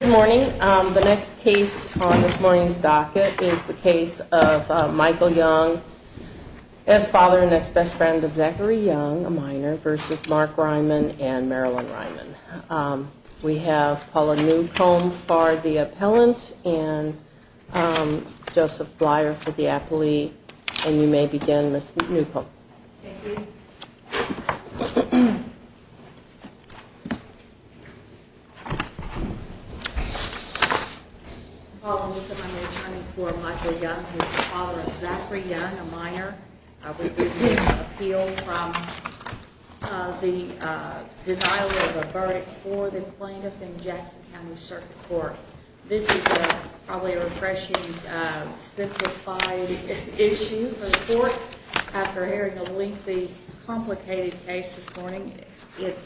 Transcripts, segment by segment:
Good morning. The next case on this morning's docket is the case of Michael Young as father and ex-best friend of Zachary Young, a minor, versus Mark Reiman and Marilyn Reiman. We have Paula Newcomb for the appellant and Joseph Blier for the appellee. And you may begin, Ms. Newcomb. Thank you. Paula Newcomb, I'm returning for Michael Young as father of Zachary Young, a minor. I would like to appeal from the denial of a verdict for the plaintiff in Jackson County Circuit Court. This is probably a refreshing, simplified issue for the court. After airing a lengthy, complicated case this morning, it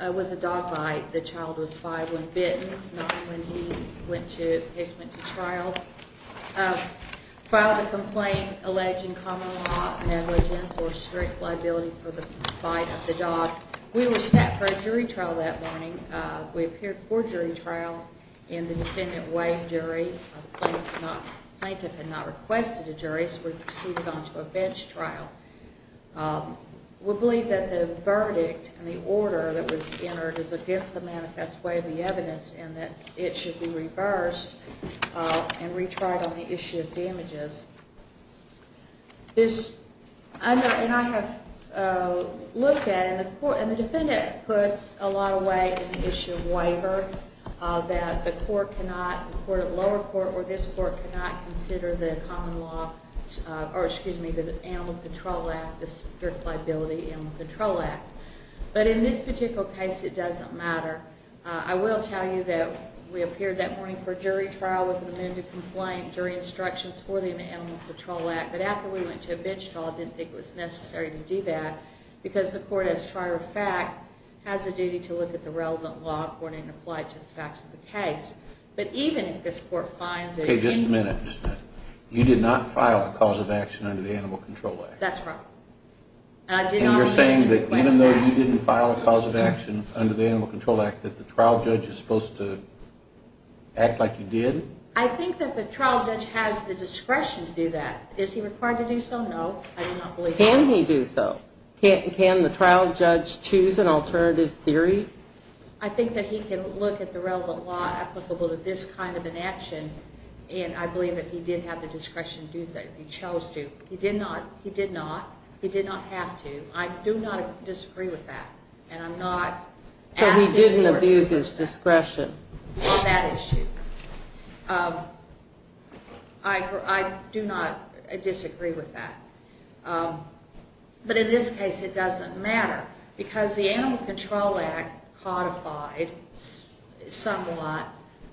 was a dog bite. The child was five when bitten, not when he went to trial. Filed a complaint alleging common law negligence or strict liability for the bite of the dog. We were set for a jury trial that morning. We appeared for jury trial in the defendant waived jury. The plaintiff had not requested a jury, so we proceeded on to a bench trial. We believe that the verdict and the order that was entered is against the manifest way of the evidence and that it should be reversed and retried on the issue of damages. And I have looked at it, and the defendant puts a lot of weight on the issue of waiver, that the lower court or this court cannot consider the Animal Control Act, the strict liability Animal Control Act. But in this particular case, it doesn't matter. I will tell you that we appeared that morning for jury trial with an amended complaint, jury instructions for the Animal Control Act. But after we went to a bench trial, I didn't think it was necessary to do that, because the court, as a matter of fact, has a duty to look at the relevant law according to the facts of the case. But even if this court finds that... Okay, just a minute, just a minute. You did not file a cause of action under the Animal Control Act? That's right. And you're saying that even though you didn't file a cause of action under the Animal Control Act, that the trial judge is supposed to act like you did? I think that the trial judge has the discretion to do that. Is he required to do so? No. Can he do so? Can the trial judge choose an alternative theory? I think that he can look at the relevant law applicable to this kind of an action, and I believe that he did have the discretion to do that if he chose to. He did not. He did not. He did not have to. I do not disagree with that. And I'm not asking... So he didn't abuse his discretion? On that issue. I do not disagree with that. But in this case, it doesn't matter, because the Animal Control Act codified somewhat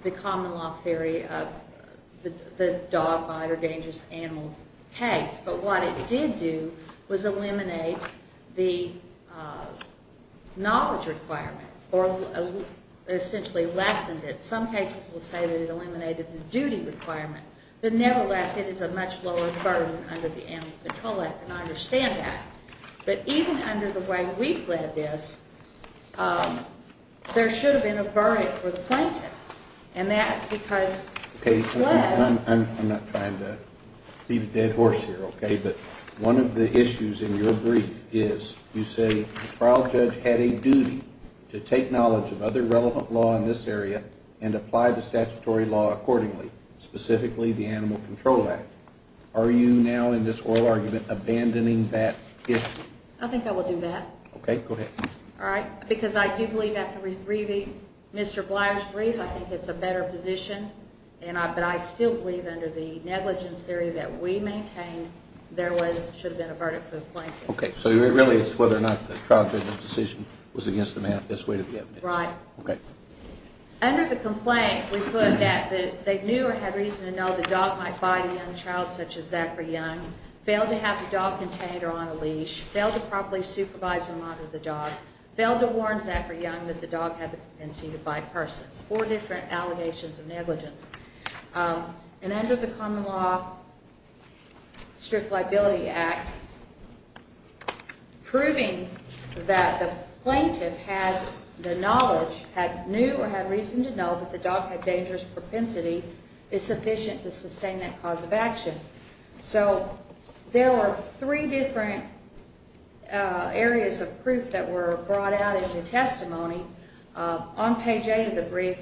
the common law theory of the dog bite or dangerous animal case. But what it did do was eliminate the knowledge requirement, or essentially lessened it. Some cases will say that it eliminated the duty requirement. But nevertheless, it is a much lower burden under the Animal Control Act, and I understand that. But even under the way we've led this, there should have been a verdict for the plaintiff. I'm not trying to beat a dead horse here, okay? But one of the issues in your brief is you say the trial judge had a duty to take knowledge of other relevant law in this area and apply the statutory law accordingly, specifically the Animal Control Act. Are you now, in this oral argument, abandoning that issue? I think I will do that. Okay, go ahead. All right, because I do believe after reading Mr. Blyer's brief, I think it's a better position, but I still believe under the negligence theory that we maintain there should have been a verdict for the plaintiff. Okay, so it really is whether or not the trial judge's decision was against the manifest way to the evidence. Right. Okay. Under the complaint, we put that they knew or had reason to know the dog might bite a young child such as Zachary Young, failed to have the dog contained or on a leash, failed to properly supervise and monitor the dog, failed to warn Zachary Young that the dog had been seen by persons. Four different allegations of negligence. And under the Common Law Strict Liability Act, proving that the plaintiff had the knowledge, had knew or had reason to know that the dog had dangerous propensity is sufficient to sustain that cause of action. So there were three different areas of proof that were brought out in the testimony. On page 8 of the brief,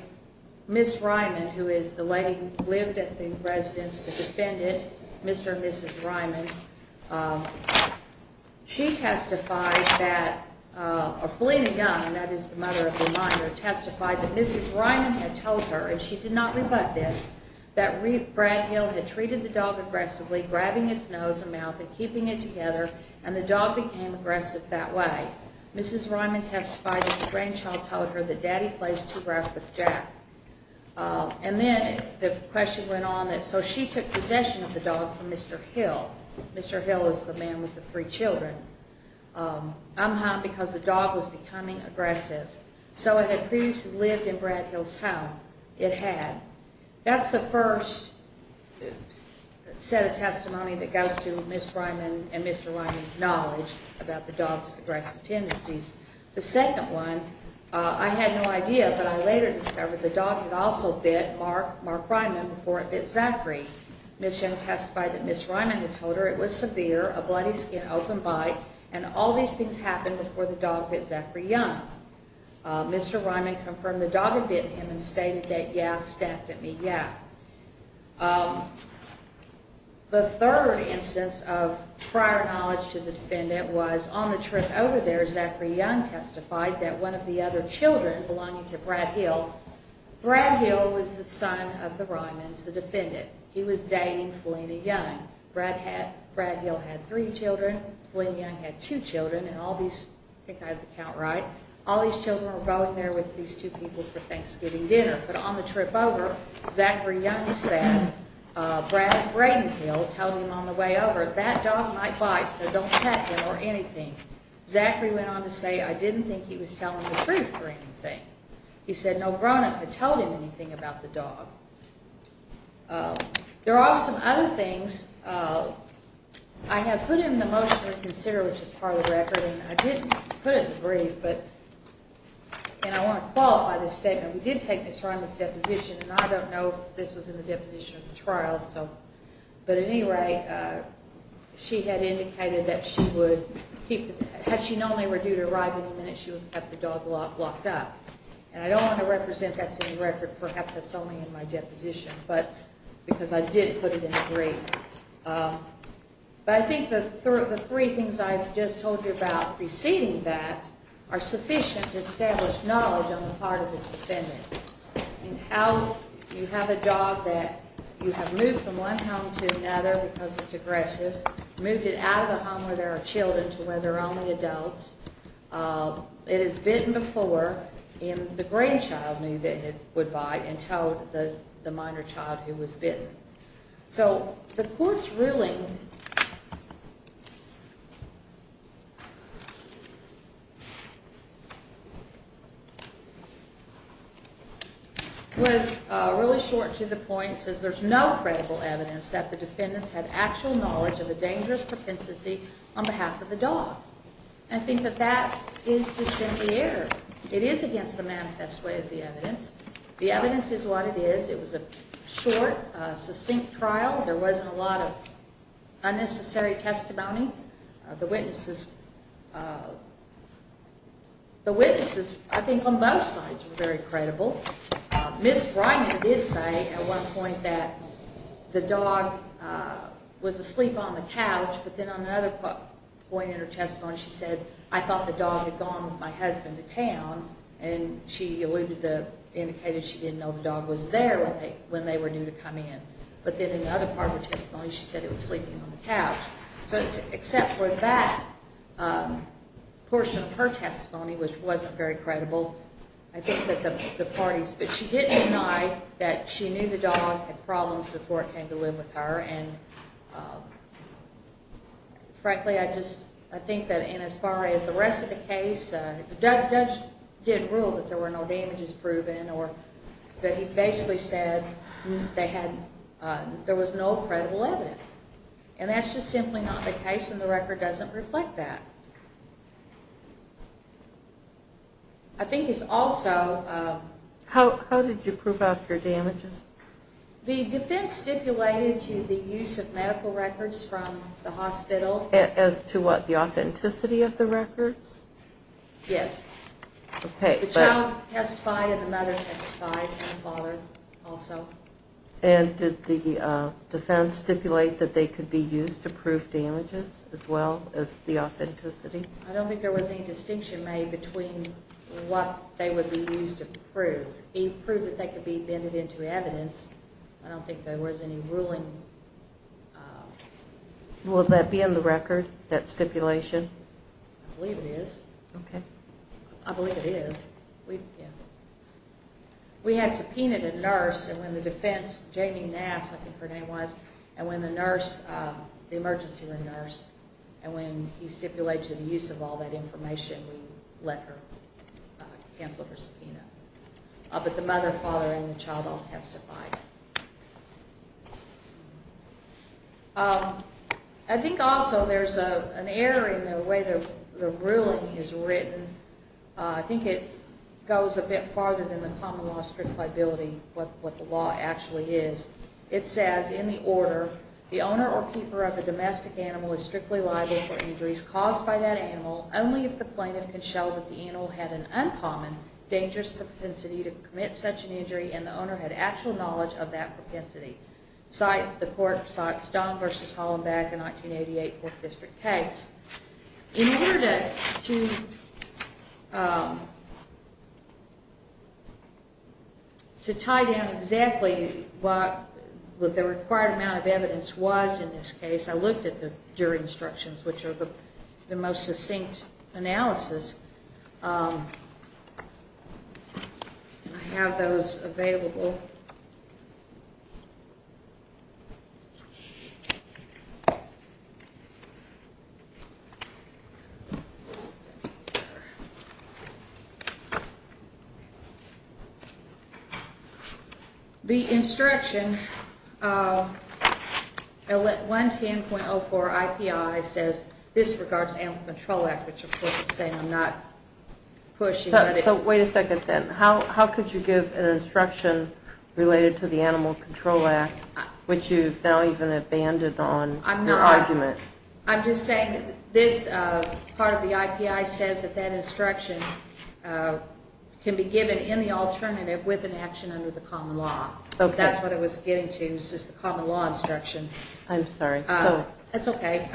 Ms. Ryman, who is the lady who lived at the residence, the defendant, Mr. and Mrs. Ryman, she testified that, or Felina Young, and that is the mother of the minor, testified that Mrs. Ryman had told her, and she did not rebut this, that Brad Hill had treated the dog aggressively, grabbing its nose and mouth and keeping it together, and the dog became aggressive that way. Mrs. Ryman testified that the grandchild told her that Daddy plays too rough with Jack. And then the question went on that, so she took possession of the dog from Mr. Hill. Mr. Hill is the man with the three children. I'm hot because the dog was becoming aggressive. So it had previously lived in Brad Hill's home. That's the first set of testimony that goes to Ms. Ryman and Mr. Ryman's knowledge about the dog's aggressive tendencies. The second one, I had no idea, but I later discovered the dog had also bit Mark Ryman before it bit Zachary. Ms. Young testified that Ms. Ryman had told her it was severe, a bloody skin, open bite, and all these things happened before the dog bit Zachary Young. Mr. Ryman confirmed the dog had bit him and stated that, yeah, stabbed him, yeah. The third instance of prior knowledge to the defendant was on the trip over there, Zachary Young testified that one of the other children, belonging to Brad Hill, Brad Hill was the son of the Ryman's, the defendant. He was dating Felina Young. Brad Hill had three children. Felina Young had two children. I think I have the count right. All these children were going there with these two people for Thanksgiving dinner, but on the trip over, Zachary Young said, Brad Brady Hill told him on the way over, that dog might bite, so don't pet him or anything. Zachary went on to say, I didn't think he was telling the truth or anything. He said no grown-up had told him anything about the dog. There are some other things. I have put in the motion to consider, which is part of the record, and I didn't put it in the brief, and I want to qualify this statement. We did take this from his deposition, and I don't know if this was in the deposition or the trial, but at any rate, she had indicated that she would keep, had she known they were due to arrive any minute, she would have the dog locked up, and I don't want to represent that's in the record. Perhaps that's only in my deposition, because I did put it in the brief. But I think the three things I just told you about preceding that are sufficient to establish knowledge on the part of this defendant in how you have a dog that you have moved from one home to another because it's aggressive, moved it out of the home where there are children to where there are only adults. It has bitten before, and the grandchild knew that it would bite and towed the minor child who was bitten. So the court's ruling... ..was really short to the point. It says there's no credible evidence that the defendants had actual knowledge of a dangerous propensity on behalf of the dog. And I think that that is dissimilar. It is against the manifest way of the evidence. The evidence is what it is. It was a short, succinct trial. There wasn't a lot of unnecessary testimony. The witnesses... ..the witnesses, I think, on both sides were very credible. Ms Reiner did say at one point that the dog was asleep on the couch, but then on another point in her testimony she said, I thought the dog had gone with my husband to town, and she alluded to... ..indicated she didn't know the dog was there when they were due to come in. But then in the other part of her testimony she said it was sleeping on the couch. So except for that portion of her testimony, which wasn't very credible, I think that the parties... ..but she did deny that she knew the dog had problems before it came to live with her, and, frankly, I just... ..I think that in as far as the rest of the case, the judge did rule that there were no damages proven or that he basically said they had... ..there was no credible evidence. And that's just simply not the case, and the record doesn't reflect that. I think it's also... How did you prove out your damages? The defense stipulated to the use of medical records from the hospital. As to what, the authenticity of the records? Yes. OK. The child testified and the mother testified and the father also. And did the defense stipulate that they could be used to prove damages as well as the authenticity? I don't think there was any distinction made between what they would be used to prove. The proof that they could be vetted into evidence, I don't think there was any ruling... Will that be in the record, that stipulation? I believe it is. OK. I believe it is. We had subpoenaed a nurse, and when the defense, Jamie Nass, I think her name was, and when the nurse, the emergency room nurse, and when he stipulated the use of all that information, we let her cancel her subpoena. But the mother, father, and the child all testified. I think also there's an error in the way the ruling is written. I think it goes a bit farther than the common law strict liability, what the law actually is. It says, in the order, the owner or keeper of a domestic animal is strictly liable for injuries caused by that animal only if the plaintiff can show that the animal had an uncommon, dangerous propensity to commit such an injury and the owner had actual knowledge of that propensity. The court cites Don v. Hollenbeck, a 1988 Fourth District case. In order to tie down exactly what the required amount of evidence was in this case, I looked at the jury instructions, which are the most succinct analysis. I have those available. The instruction, 110.04 IPI, says this regards Animal Control Act, which, of course, I'm saying I'm not pushing. So wait a second, then. How could you give an instruction related to the Animal Control Act, which you've now even abandoned on your argument? I'm just saying this part of the IPI says that that instruction can be given in the alternative with an action under the common law. That's what I was getting to, was just the common law instruction. I'm sorry. That's okay.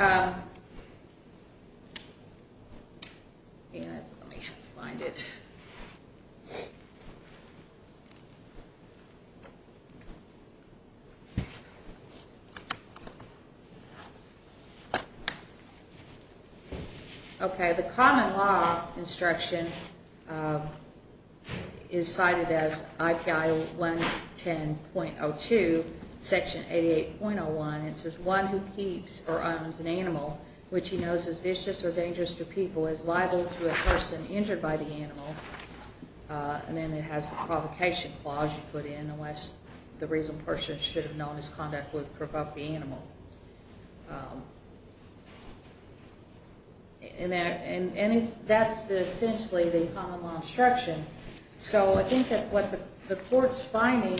Okay, the common law instruction is cited as IPI 110.02, Section 88.01. It says one who keeps or owns an animal, which he knows is vicious or dangerous to people, is liable to a person injured by the animal. And then it has the provocation clause you put in, unless the reason person should have known his conduct would provoke the animal. And that's essentially the common law instruction. So I think that what the court's finding...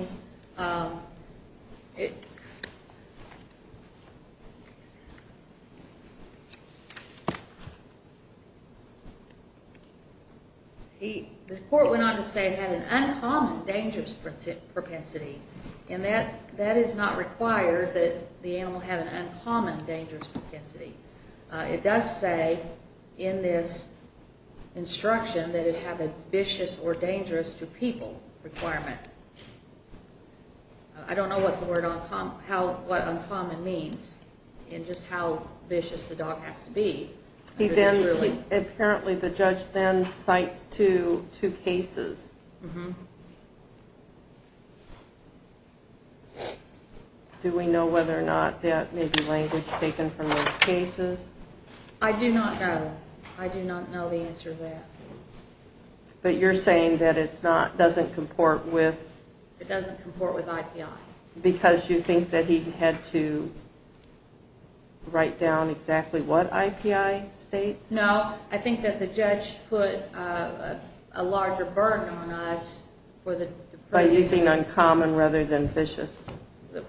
The court went on to say it had an uncommon dangerous propensity. And that is not required, that the animal have an uncommon dangerous propensity. It does say in this instruction that it have a vicious or dangerous to people requirement. I don't know what uncommon means and just how vicious the dog has to be. Apparently the judge then cites two cases. Do we know whether or not that may be language taken from those cases? I do not know. I do not know the answer to that. But you're saying that it doesn't comport with... It doesn't comport with IPI. Because you think that he had to write down exactly what IPI states? No. I think that the judge put a larger burden on us for the... By using uncommon rather than vicious.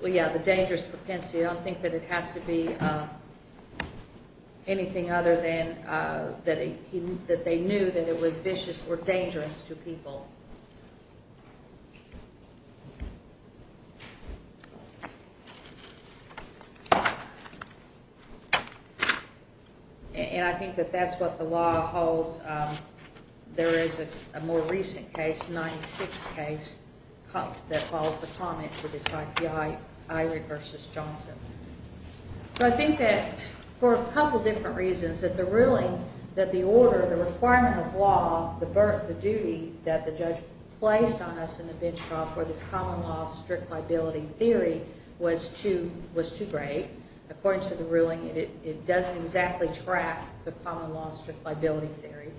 Yeah, the dangerous propensity. I don't think that it has to be anything other than that they knew that it was vicious or dangerous to people. And I think that that's what the law holds. There is a more recent case, 96 case, that follows the comments of this IPI, Eyring v. Johnson. So I think that for a couple different reasons, that the ruling, that the order, the requirement of law, the duty that the judge placed on us in the bench trial for this common law strict liability theory was too great. According to the ruling, it doesn't exactly track the common law strict liability theory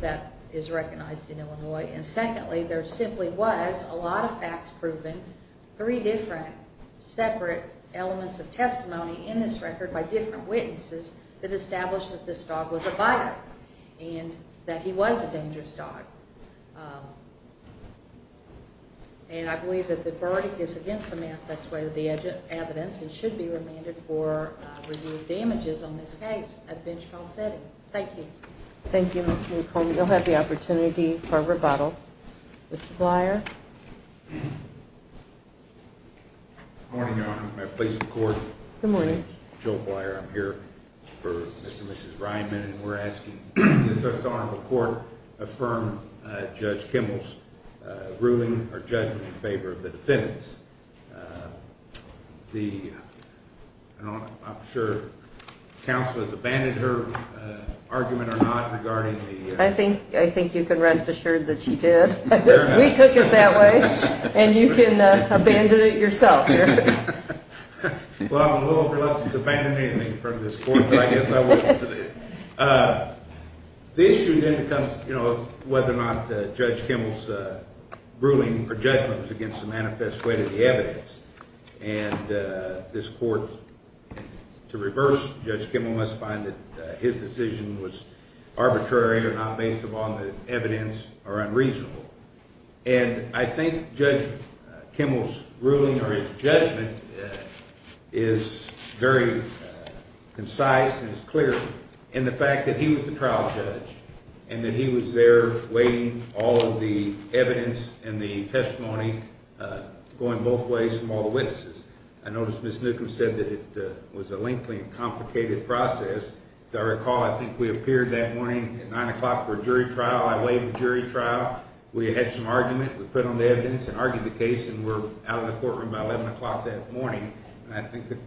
that is recognized in Illinois. And secondly, there simply was a lot of facts proven, three different separate elements of testimony in this record by different witnesses that established that this dog was a violent and that he was a dangerous dog. And I believe that the verdict is against the manifest way of the evidence and should be remanded for review of damages on this case at bench trial setting. Thank you. Thank you, Ms. McCormick. And you'll have the opportunity for a rebuttal. Mr. Blyer. Good morning, Your Honor. May I please record? Good morning. Joe Blyer. I'm here for Mr. and Mrs. Ryman, and we're asking does this honorable court affirm Judge Kimball's ruling or judgment in favor of the defendants? I'm sure counsel has abandoned her argument or not regarding the- I think you can rest assured that she did. We took it that way, and you can abandon it yourself here. Well, I'm a little reluctant to abandon anything in front of this court, but I guess I will. The issue then becomes whether or not Judge Kimball's ruling or judgment was against the manifest way of the evidence. And this court, to reverse Judge Kimball, must find that his decision was arbitrary or not based upon the evidence or unreasonable. And I think Judge Kimball's ruling or his judgment is very concise and is clear in the fact that he was the trial judge and that he was there waiting all of the evidence and the testimony going both ways from all the witnesses. I noticed Ms. Newcomb said that it was a lengthy and complicated process. If I recall, I think we appeared that morning at 9 o'clock for a jury trial. I waived the jury trial. We had some argument. We put on the evidence and argued the case, and we're out of the courtroom by 11 o'clock that morning. And I think the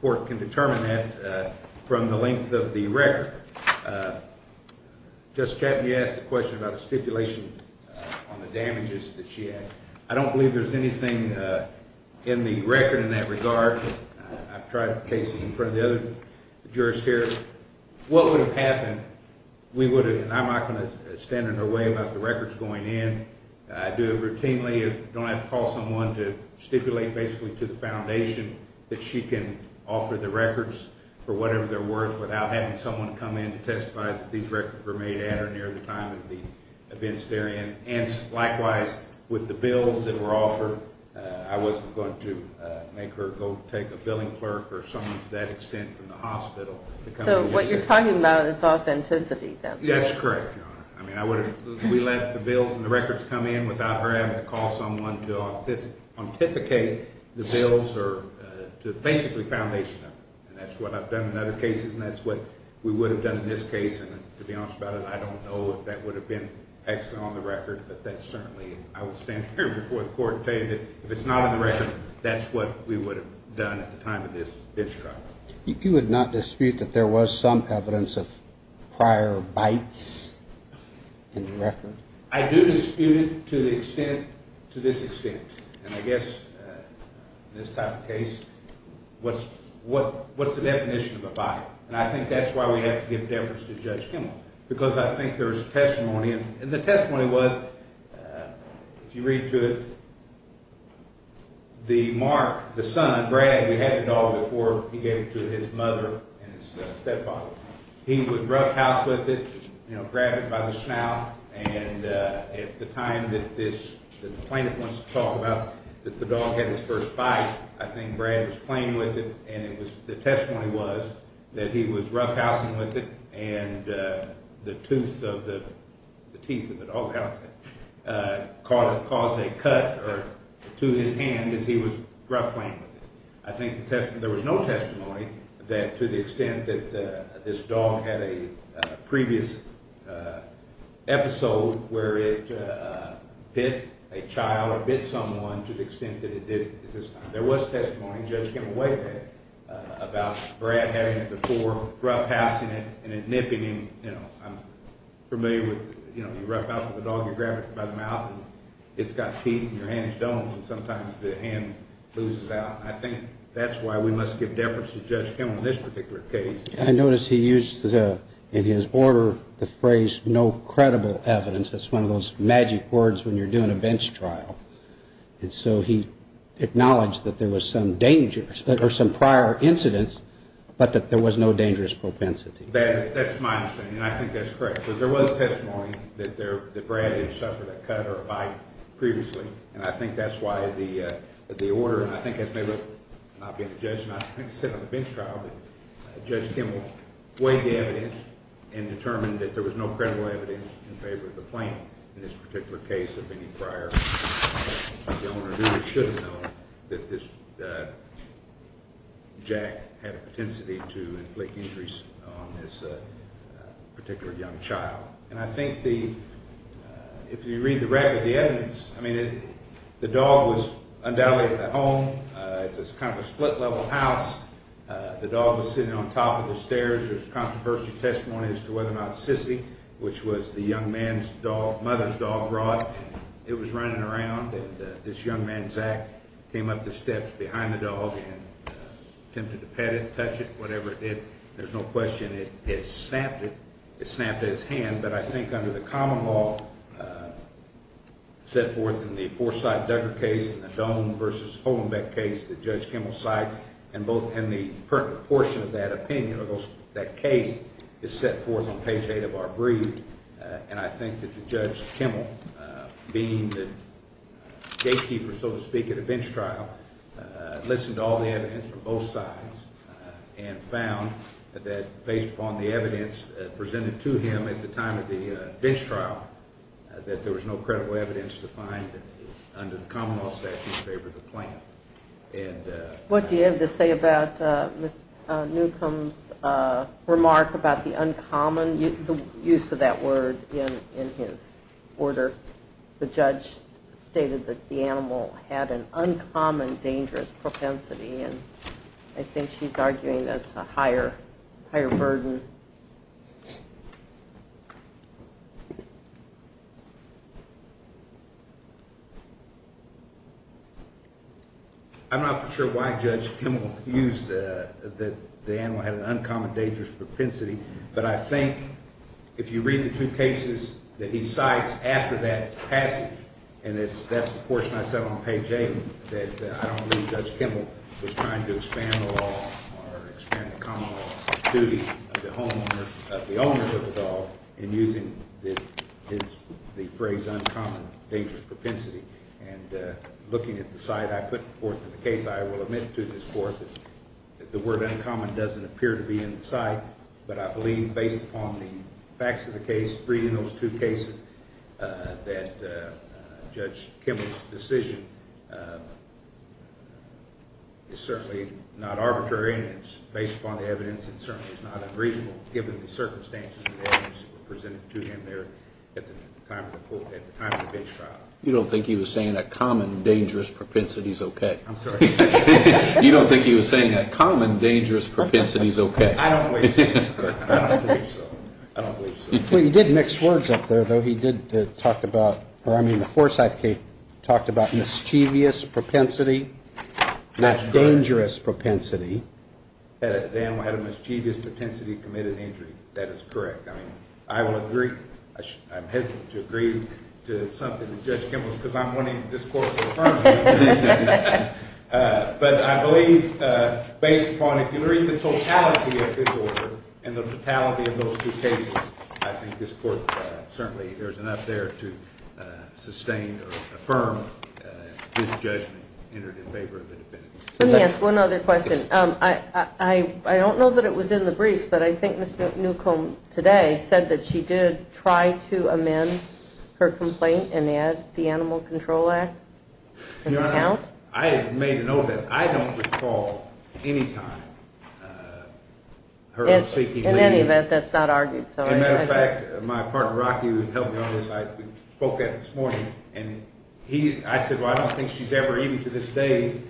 court can determine that from the length of the record. Justice Chapman, you asked a question about a stipulation on the damages that she had. I don't believe there's anything in the record in that regard. I've tried cases in front of the other jurors here. What would have happened, we would have, and I'm not going to stand in her way about the records going in. I do it routinely. I don't have to call someone to stipulate basically to the foundation that she can offer the records for whatever they're worth without having someone come in to testify that these records were made at her near the time of the events therein. And likewise, with the bills that were offered, I wasn't going to make her go take a billing clerk or someone to that extent from the hospital to come in and just sit there. So what you're talking about is authenticity, then? That's correct, Your Honor. I mean, we let the bills and the records come in without her having to call someone to authenticate the bills or to basically foundation them. And that's what I've done in other cases, and that's what we would have done in this case. And to be honest about it, I don't know if that would have been excellent on the record, but that certainly, I would stand here before the court to say that if it's not on the record, that's what we would have done at the time of this trial. You would not dispute that there was some evidence of prior bites in the record? I do dispute it to this extent. And I guess in this type of case, what's the definition of a bite? And I think that's why we have to give deference to Judge Kimball because I think there's testimony, and the testimony was, if you read to it, the mark, the son, Brad, who had the dog before he gave it to his mother and his stepfather, he would roughhouse with it, grab it by the snout, and at the time that the plaintiff wants to talk about that the dog had his first bite, I think Brad was playing with it, and the testimony was that he was roughhousing with it and the tooth of the dog house caused a cut to his hand as he was roughhousing with it. I think there was no testimony to the extent that this dog had a previous episode where it bit a child or bit someone to the extent that it did at this time. There was testimony, Judge Kimball weighed that, about Brad having it before, roughhousing it, and then nipping him, you know, I'm familiar with, you know, you roughhouse with a dog, you grab it by the mouth, and it's got teeth and your hand is dull, and sometimes the hand loses out. I think that's why we must give deference to Judge Kimball in this particular case. I notice he used in his order the phrase, no credible evidence. That's one of those magic words when you're doing a bench trial. And so he acknowledged that there was some dangers, or some prior incidents, but that there was no dangerous propensity. That's my understanding, and I think that's correct, because there was testimony that Brad had suffered a cut or a bite previously, and I think that's why the order, and I think it may not be up to the judge not to sit on the bench trial, but Judge Kimball weighed the evidence and determined that there was no credible evidence in favor of the claim in this particular case of any prior. The owner knew or should have known that Jack had a potential to inflict injuries on this particular young child. And I think if you read the record of the evidence, I mean, the dog was undoubtedly at the home. It's kind of a split-level house. The dog was sitting on top of the stairs. There's controversy testimony as to whether or not Sissy, which was the young man's dog, mother's dog, brought. It was running around, and this young man, Zack, came up the steps behind the dog and attempted to pet it, touch it, whatever it did. There's no question it snapped its hand, but I think under the common law set forth in the Forsyth-Duggar case and the Doan v. Holenbeck case that Judge Kimball cites, and both in the pertinent portion of that opinion, that case is set forth on page 8 of our brief, and I think that Judge Kimball, being the gatekeeper, so to speak, at a bench trial, listened to all the evidence from both sides and found that based upon the evidence presented to him at the time of the bench trial, that there was no credible evidence to find under the common law statute in favor of the plan. What do you have to say about Ms. Newcomb's remark about the uncommon use of that word in his order? The judge stated that the animal had an uncommon dangerous propensity, and I think she's arguing that's a higher burden. I'm not sure why Judge Kimball used that the animal had an uncommon dangerous propensity, but I think if you read the two cases that he cites after that passage, and that's the portion I said on page 8, that I don't believe Judge Kimball was trying to expand the law or expand the common law of duty of the owner of the dog in using the phrase uncommon dangerous propensity. And looking at the side I put forth in the case, I will admit to this court that the word uncommon doesn't appear to be in sight, but I believe based upon the facts of the case, reading those two cases, that Judge Kimball's decision is certainly not arbitrary and it's based upon the evidence and certainly is not unreasonable given the circumstances of the evidence presented to him there at the time of the bench trial. You don't think he was saying that common dangerous propensity is okay? I'm sorry? You don't think he was saying that common dangerous propensity is okay? I don't believe so. I don't believe so. Well, he did mix words up there, though. He did talk about, or I mean the Forsyth case talked about mischievous propensity, not dangerous propensity. The animal had a mischievous propensity to commit an injury. That is correct. I will agree, I'm hesitant to agree to something with Judge Kimball because I'm wanting this Court to affirm it. But I believe based upon, if you read the totality of his order and the totality of those two cases, I think this Court certainly, there's enough there to sustain or affirm his judgment entered in favor of the defendant. Let me ask one other question. I don't know that it was in the briefs, but I think Ms. Newcomb today said that she did try to amend her complaint and add the Animal Control Act as an account. Your Honor, I have made it known that I don't recall any time her seeking leave. In any event, that's not argued. As a matter of fact, my partner, Rocky, who helped me on this, I spoke to him this morning, and I said, well, I don't think she's ever, even to this day,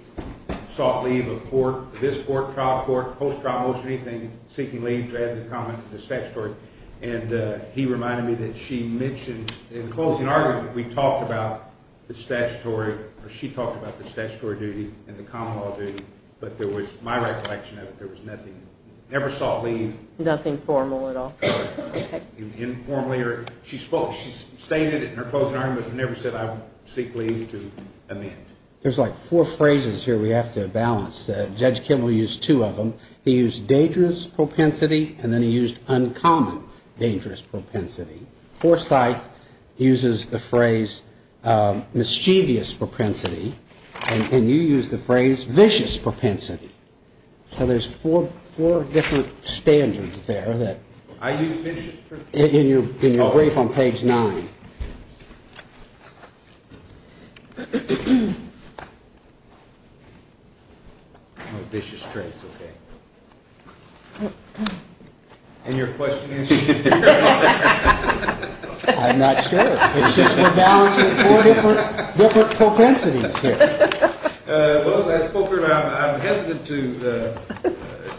sought leave of court, this court, trial court, post-trial motion, anything, seeking leave to add the comment to this statutory. And he reminded me that she mentioned in the closing argument, we talked about the statutory, or she talked about the statutory duty and the common law duty, but there was, my recollection of it, there was nothing, never sought leave. Nothing formal at all. Informally, or she spoke, she stated it in her closing argument, but never said I would seek leave to amend. There's like four phrases here we have to balance. Judge Kimmel used two of them. He used dangerous propensity, and then he used uncommon dangerous propensity. Forsyth uses the phrase mischievous propensity, and you use the phrase vicious propensity. So there's four different standards there that... I use vicious propensity. In your brief on page nine. No vicious traits, okay. And your question is? I'm not sure. It's just we're balancing four different propensities here. Well, as I spoke earlier, I'm hesitant to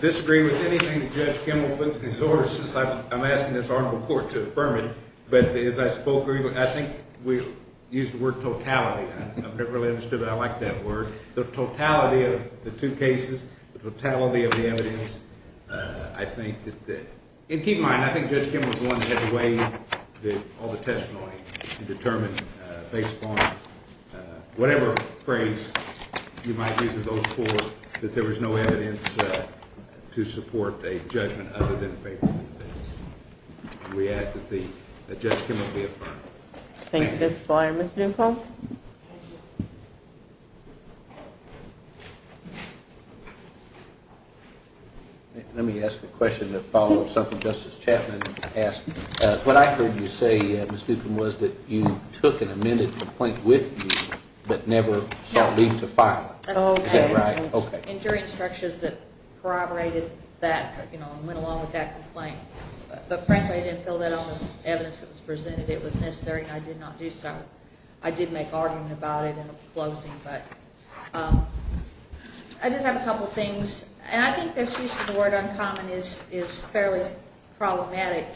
disagree with anything that Judge Kimmel puts before us. I'm asking this article of court to affirm it. But as I spoke earlier, I think we used the word totality. I've never really understood it. I like that word. The totality of the two cases, the totality of the evidence, I think that... And keep in mind, I think Judge Kimmel was the one that had to weigh all the testimony and determine based upon whatever phrase you might use in those four that there was no evidence to support a judgment other than favorable defense. We ask that Judge Kimmel be affirmed. Thank you, Mr. Flier. Mr. Dunkel? Let me ask a question to follow up something Justice Chapman asked. What I heard you say, Ms. Ducombe, was that you took an amended complaint with you but never sought leave to file it. Is that right? Okay. And jury instructions that corroborated that and went along with that complaint. But frankly, I didn't fill that out on the evidence that was presented. It was necessary, and I did not do so. I did make argument about it in the closing. But I did have a couple things. And I think this use of the word uncommon is fairly problematic.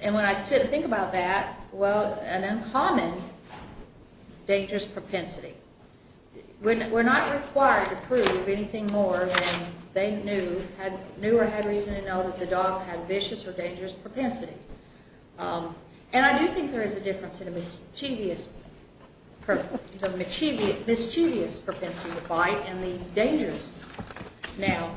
And when I sit and think about that, well, an uncommon dangerous propensity. We're not required to prove anything more than they knew or had reason to know that the dog had vicious or dangerous propensity. And I do think there is a difference in the mischievous propensity to bite and the dangerous now.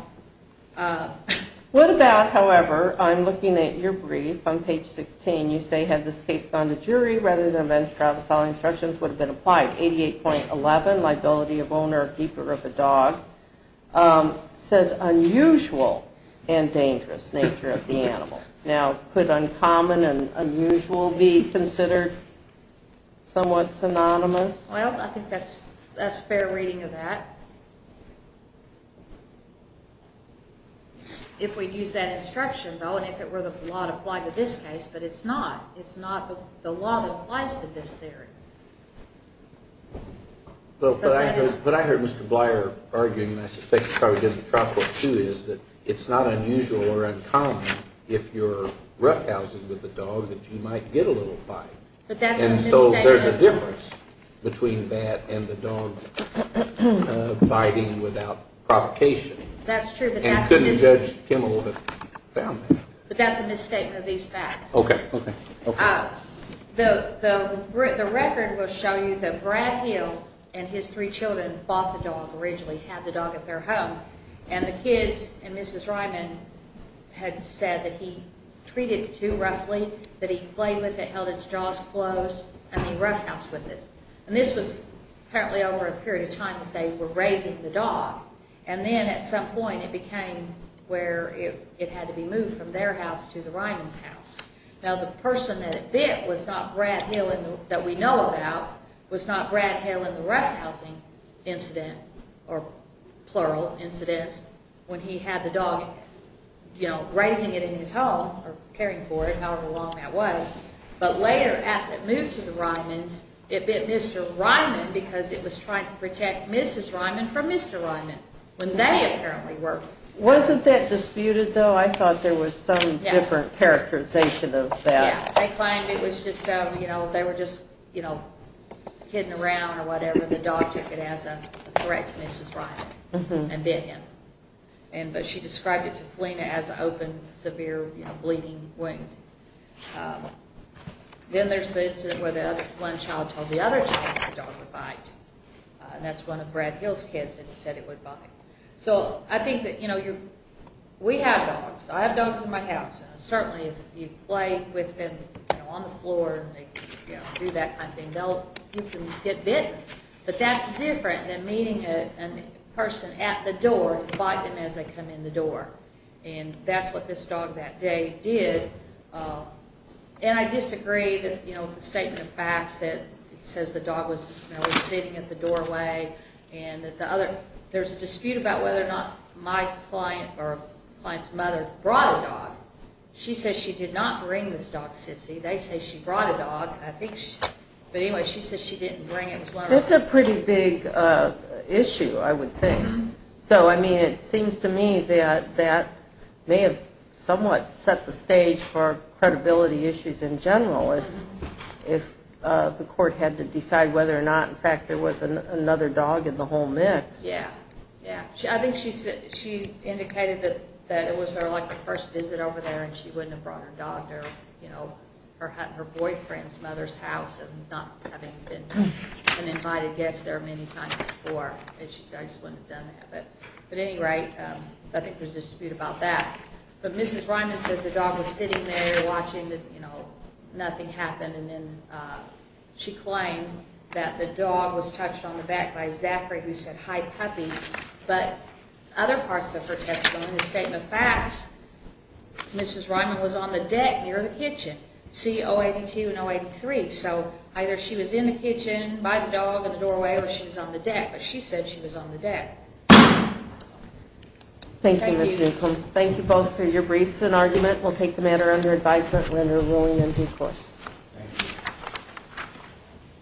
What about, however, I'm looking at your brief, on page 16, you say, had this case gone to jury rather than a bench trial, the following instructions would have been applied. 88.11, liability of owner or keeper of a dog, says unusual and dangerous nature of the animal. Now, could uncommon and unusual be considered somewhat synonymous? Well, I think that's fair reading of that. If we'd use that instruction, though, and if it were the law to apply to this case, but it's not. It's not the law that applies to this theory. But I heard Mr. Blier arguing, and I suspect he probably did in the trial court too, is that it's not unusual or uncommon if you're roughhousing with a dog that you might get a little bite. But that's a misstatement. And so there's a difference between that and the dog biting without provocation. That's true, but that's a misstatement. And couldn't Judge Kimmel have found that? But that's a misstatement of these facts. Okay, okay. The record will show you that Brad Hill and his three children bought the dog, originally had the dog at their home, and the kids and Mrs. Ryman had said that he treated the two roughly, that he played with it, held its jaws closed, and he roughhoused with it. And this was apparently over a period of time that they were raising the dog. And then at some point it became where it had to be moved from their house to the Ryman's house. Now the person that it bit was not Brad Hill that we know about, was not Brad Hill in the roughhousing incident, or plural incident, when he had the dog, you know, raising it in his home, or caring for it, however long that was. But later, after it moved to the Ryman's, it bit Mr. Ryman because it was trying to protect Mrs. Ryman from Mr. Ryman, when they apparently were. Wasn't that disputed, though? I thought there was some different characterization of that. Yeah, they claimed it was just, you know, they were just, you know, kidding around or whatever, and the dog took it as a threat to Mrs. Ryman and bit him. But she described it to Felina as an open, severe, you know, bleeding wound. Then there's the incident where one child told the other child the dog would bite, and that's one of Brad Hill's kids, and he said it would bite. So I think that, you know, we have dogs. I have dogs in my house, and certainly if you play with them, you know, on the floor, and they, you know, do that kind of thing, you can get bitten. But that's different than meeting a person at the door to bite them as they come in the door. And that's what this dog that day did. And I disagree that, you know, the statement of facts that says the dog was just, you know, sitting at the doorway and that the other... There's a dispute about whether or not my client or a client's mother brought a dog. She says she did not bring this dog, Sissy. They say she brought a dog. I think she... But anyway, she says she didn't bring it. That's a pretty big issue, I would think. So, I mean, it seems to me that that may have somewhat set the stage for credibility issues in general if the court had to decide whether or not, in fact, there was another dog in the whole mix. Yeah, yeah. I think she indicated that it was her, like, first visit over there, and she wouldn't have brought her dog there, you know, her boyfriend's mother's house, and not having been an invited guest there many times before. And she said, I just wouldn't have done that. But at any rate, I think there's a dispute about that. But Mrs. Ryman says the dog was sitting there watching that, you know, nothing happened, and then she claimed that the dog was touched on the back by Zachary, who said, hi, puppy. But other parts of her testimony, the statement of facts, Mrs. Ryman was on the deck near the kitchen. See 082 and 083. So either she was in the kitchen by the dog in the doorway or she was on the deck. But she said she was on the deck. Thank you, Ms. Newcomb. Thank you both for your briefs and argument. We'll take the matter under advisement and render ruling in due course. Thank you.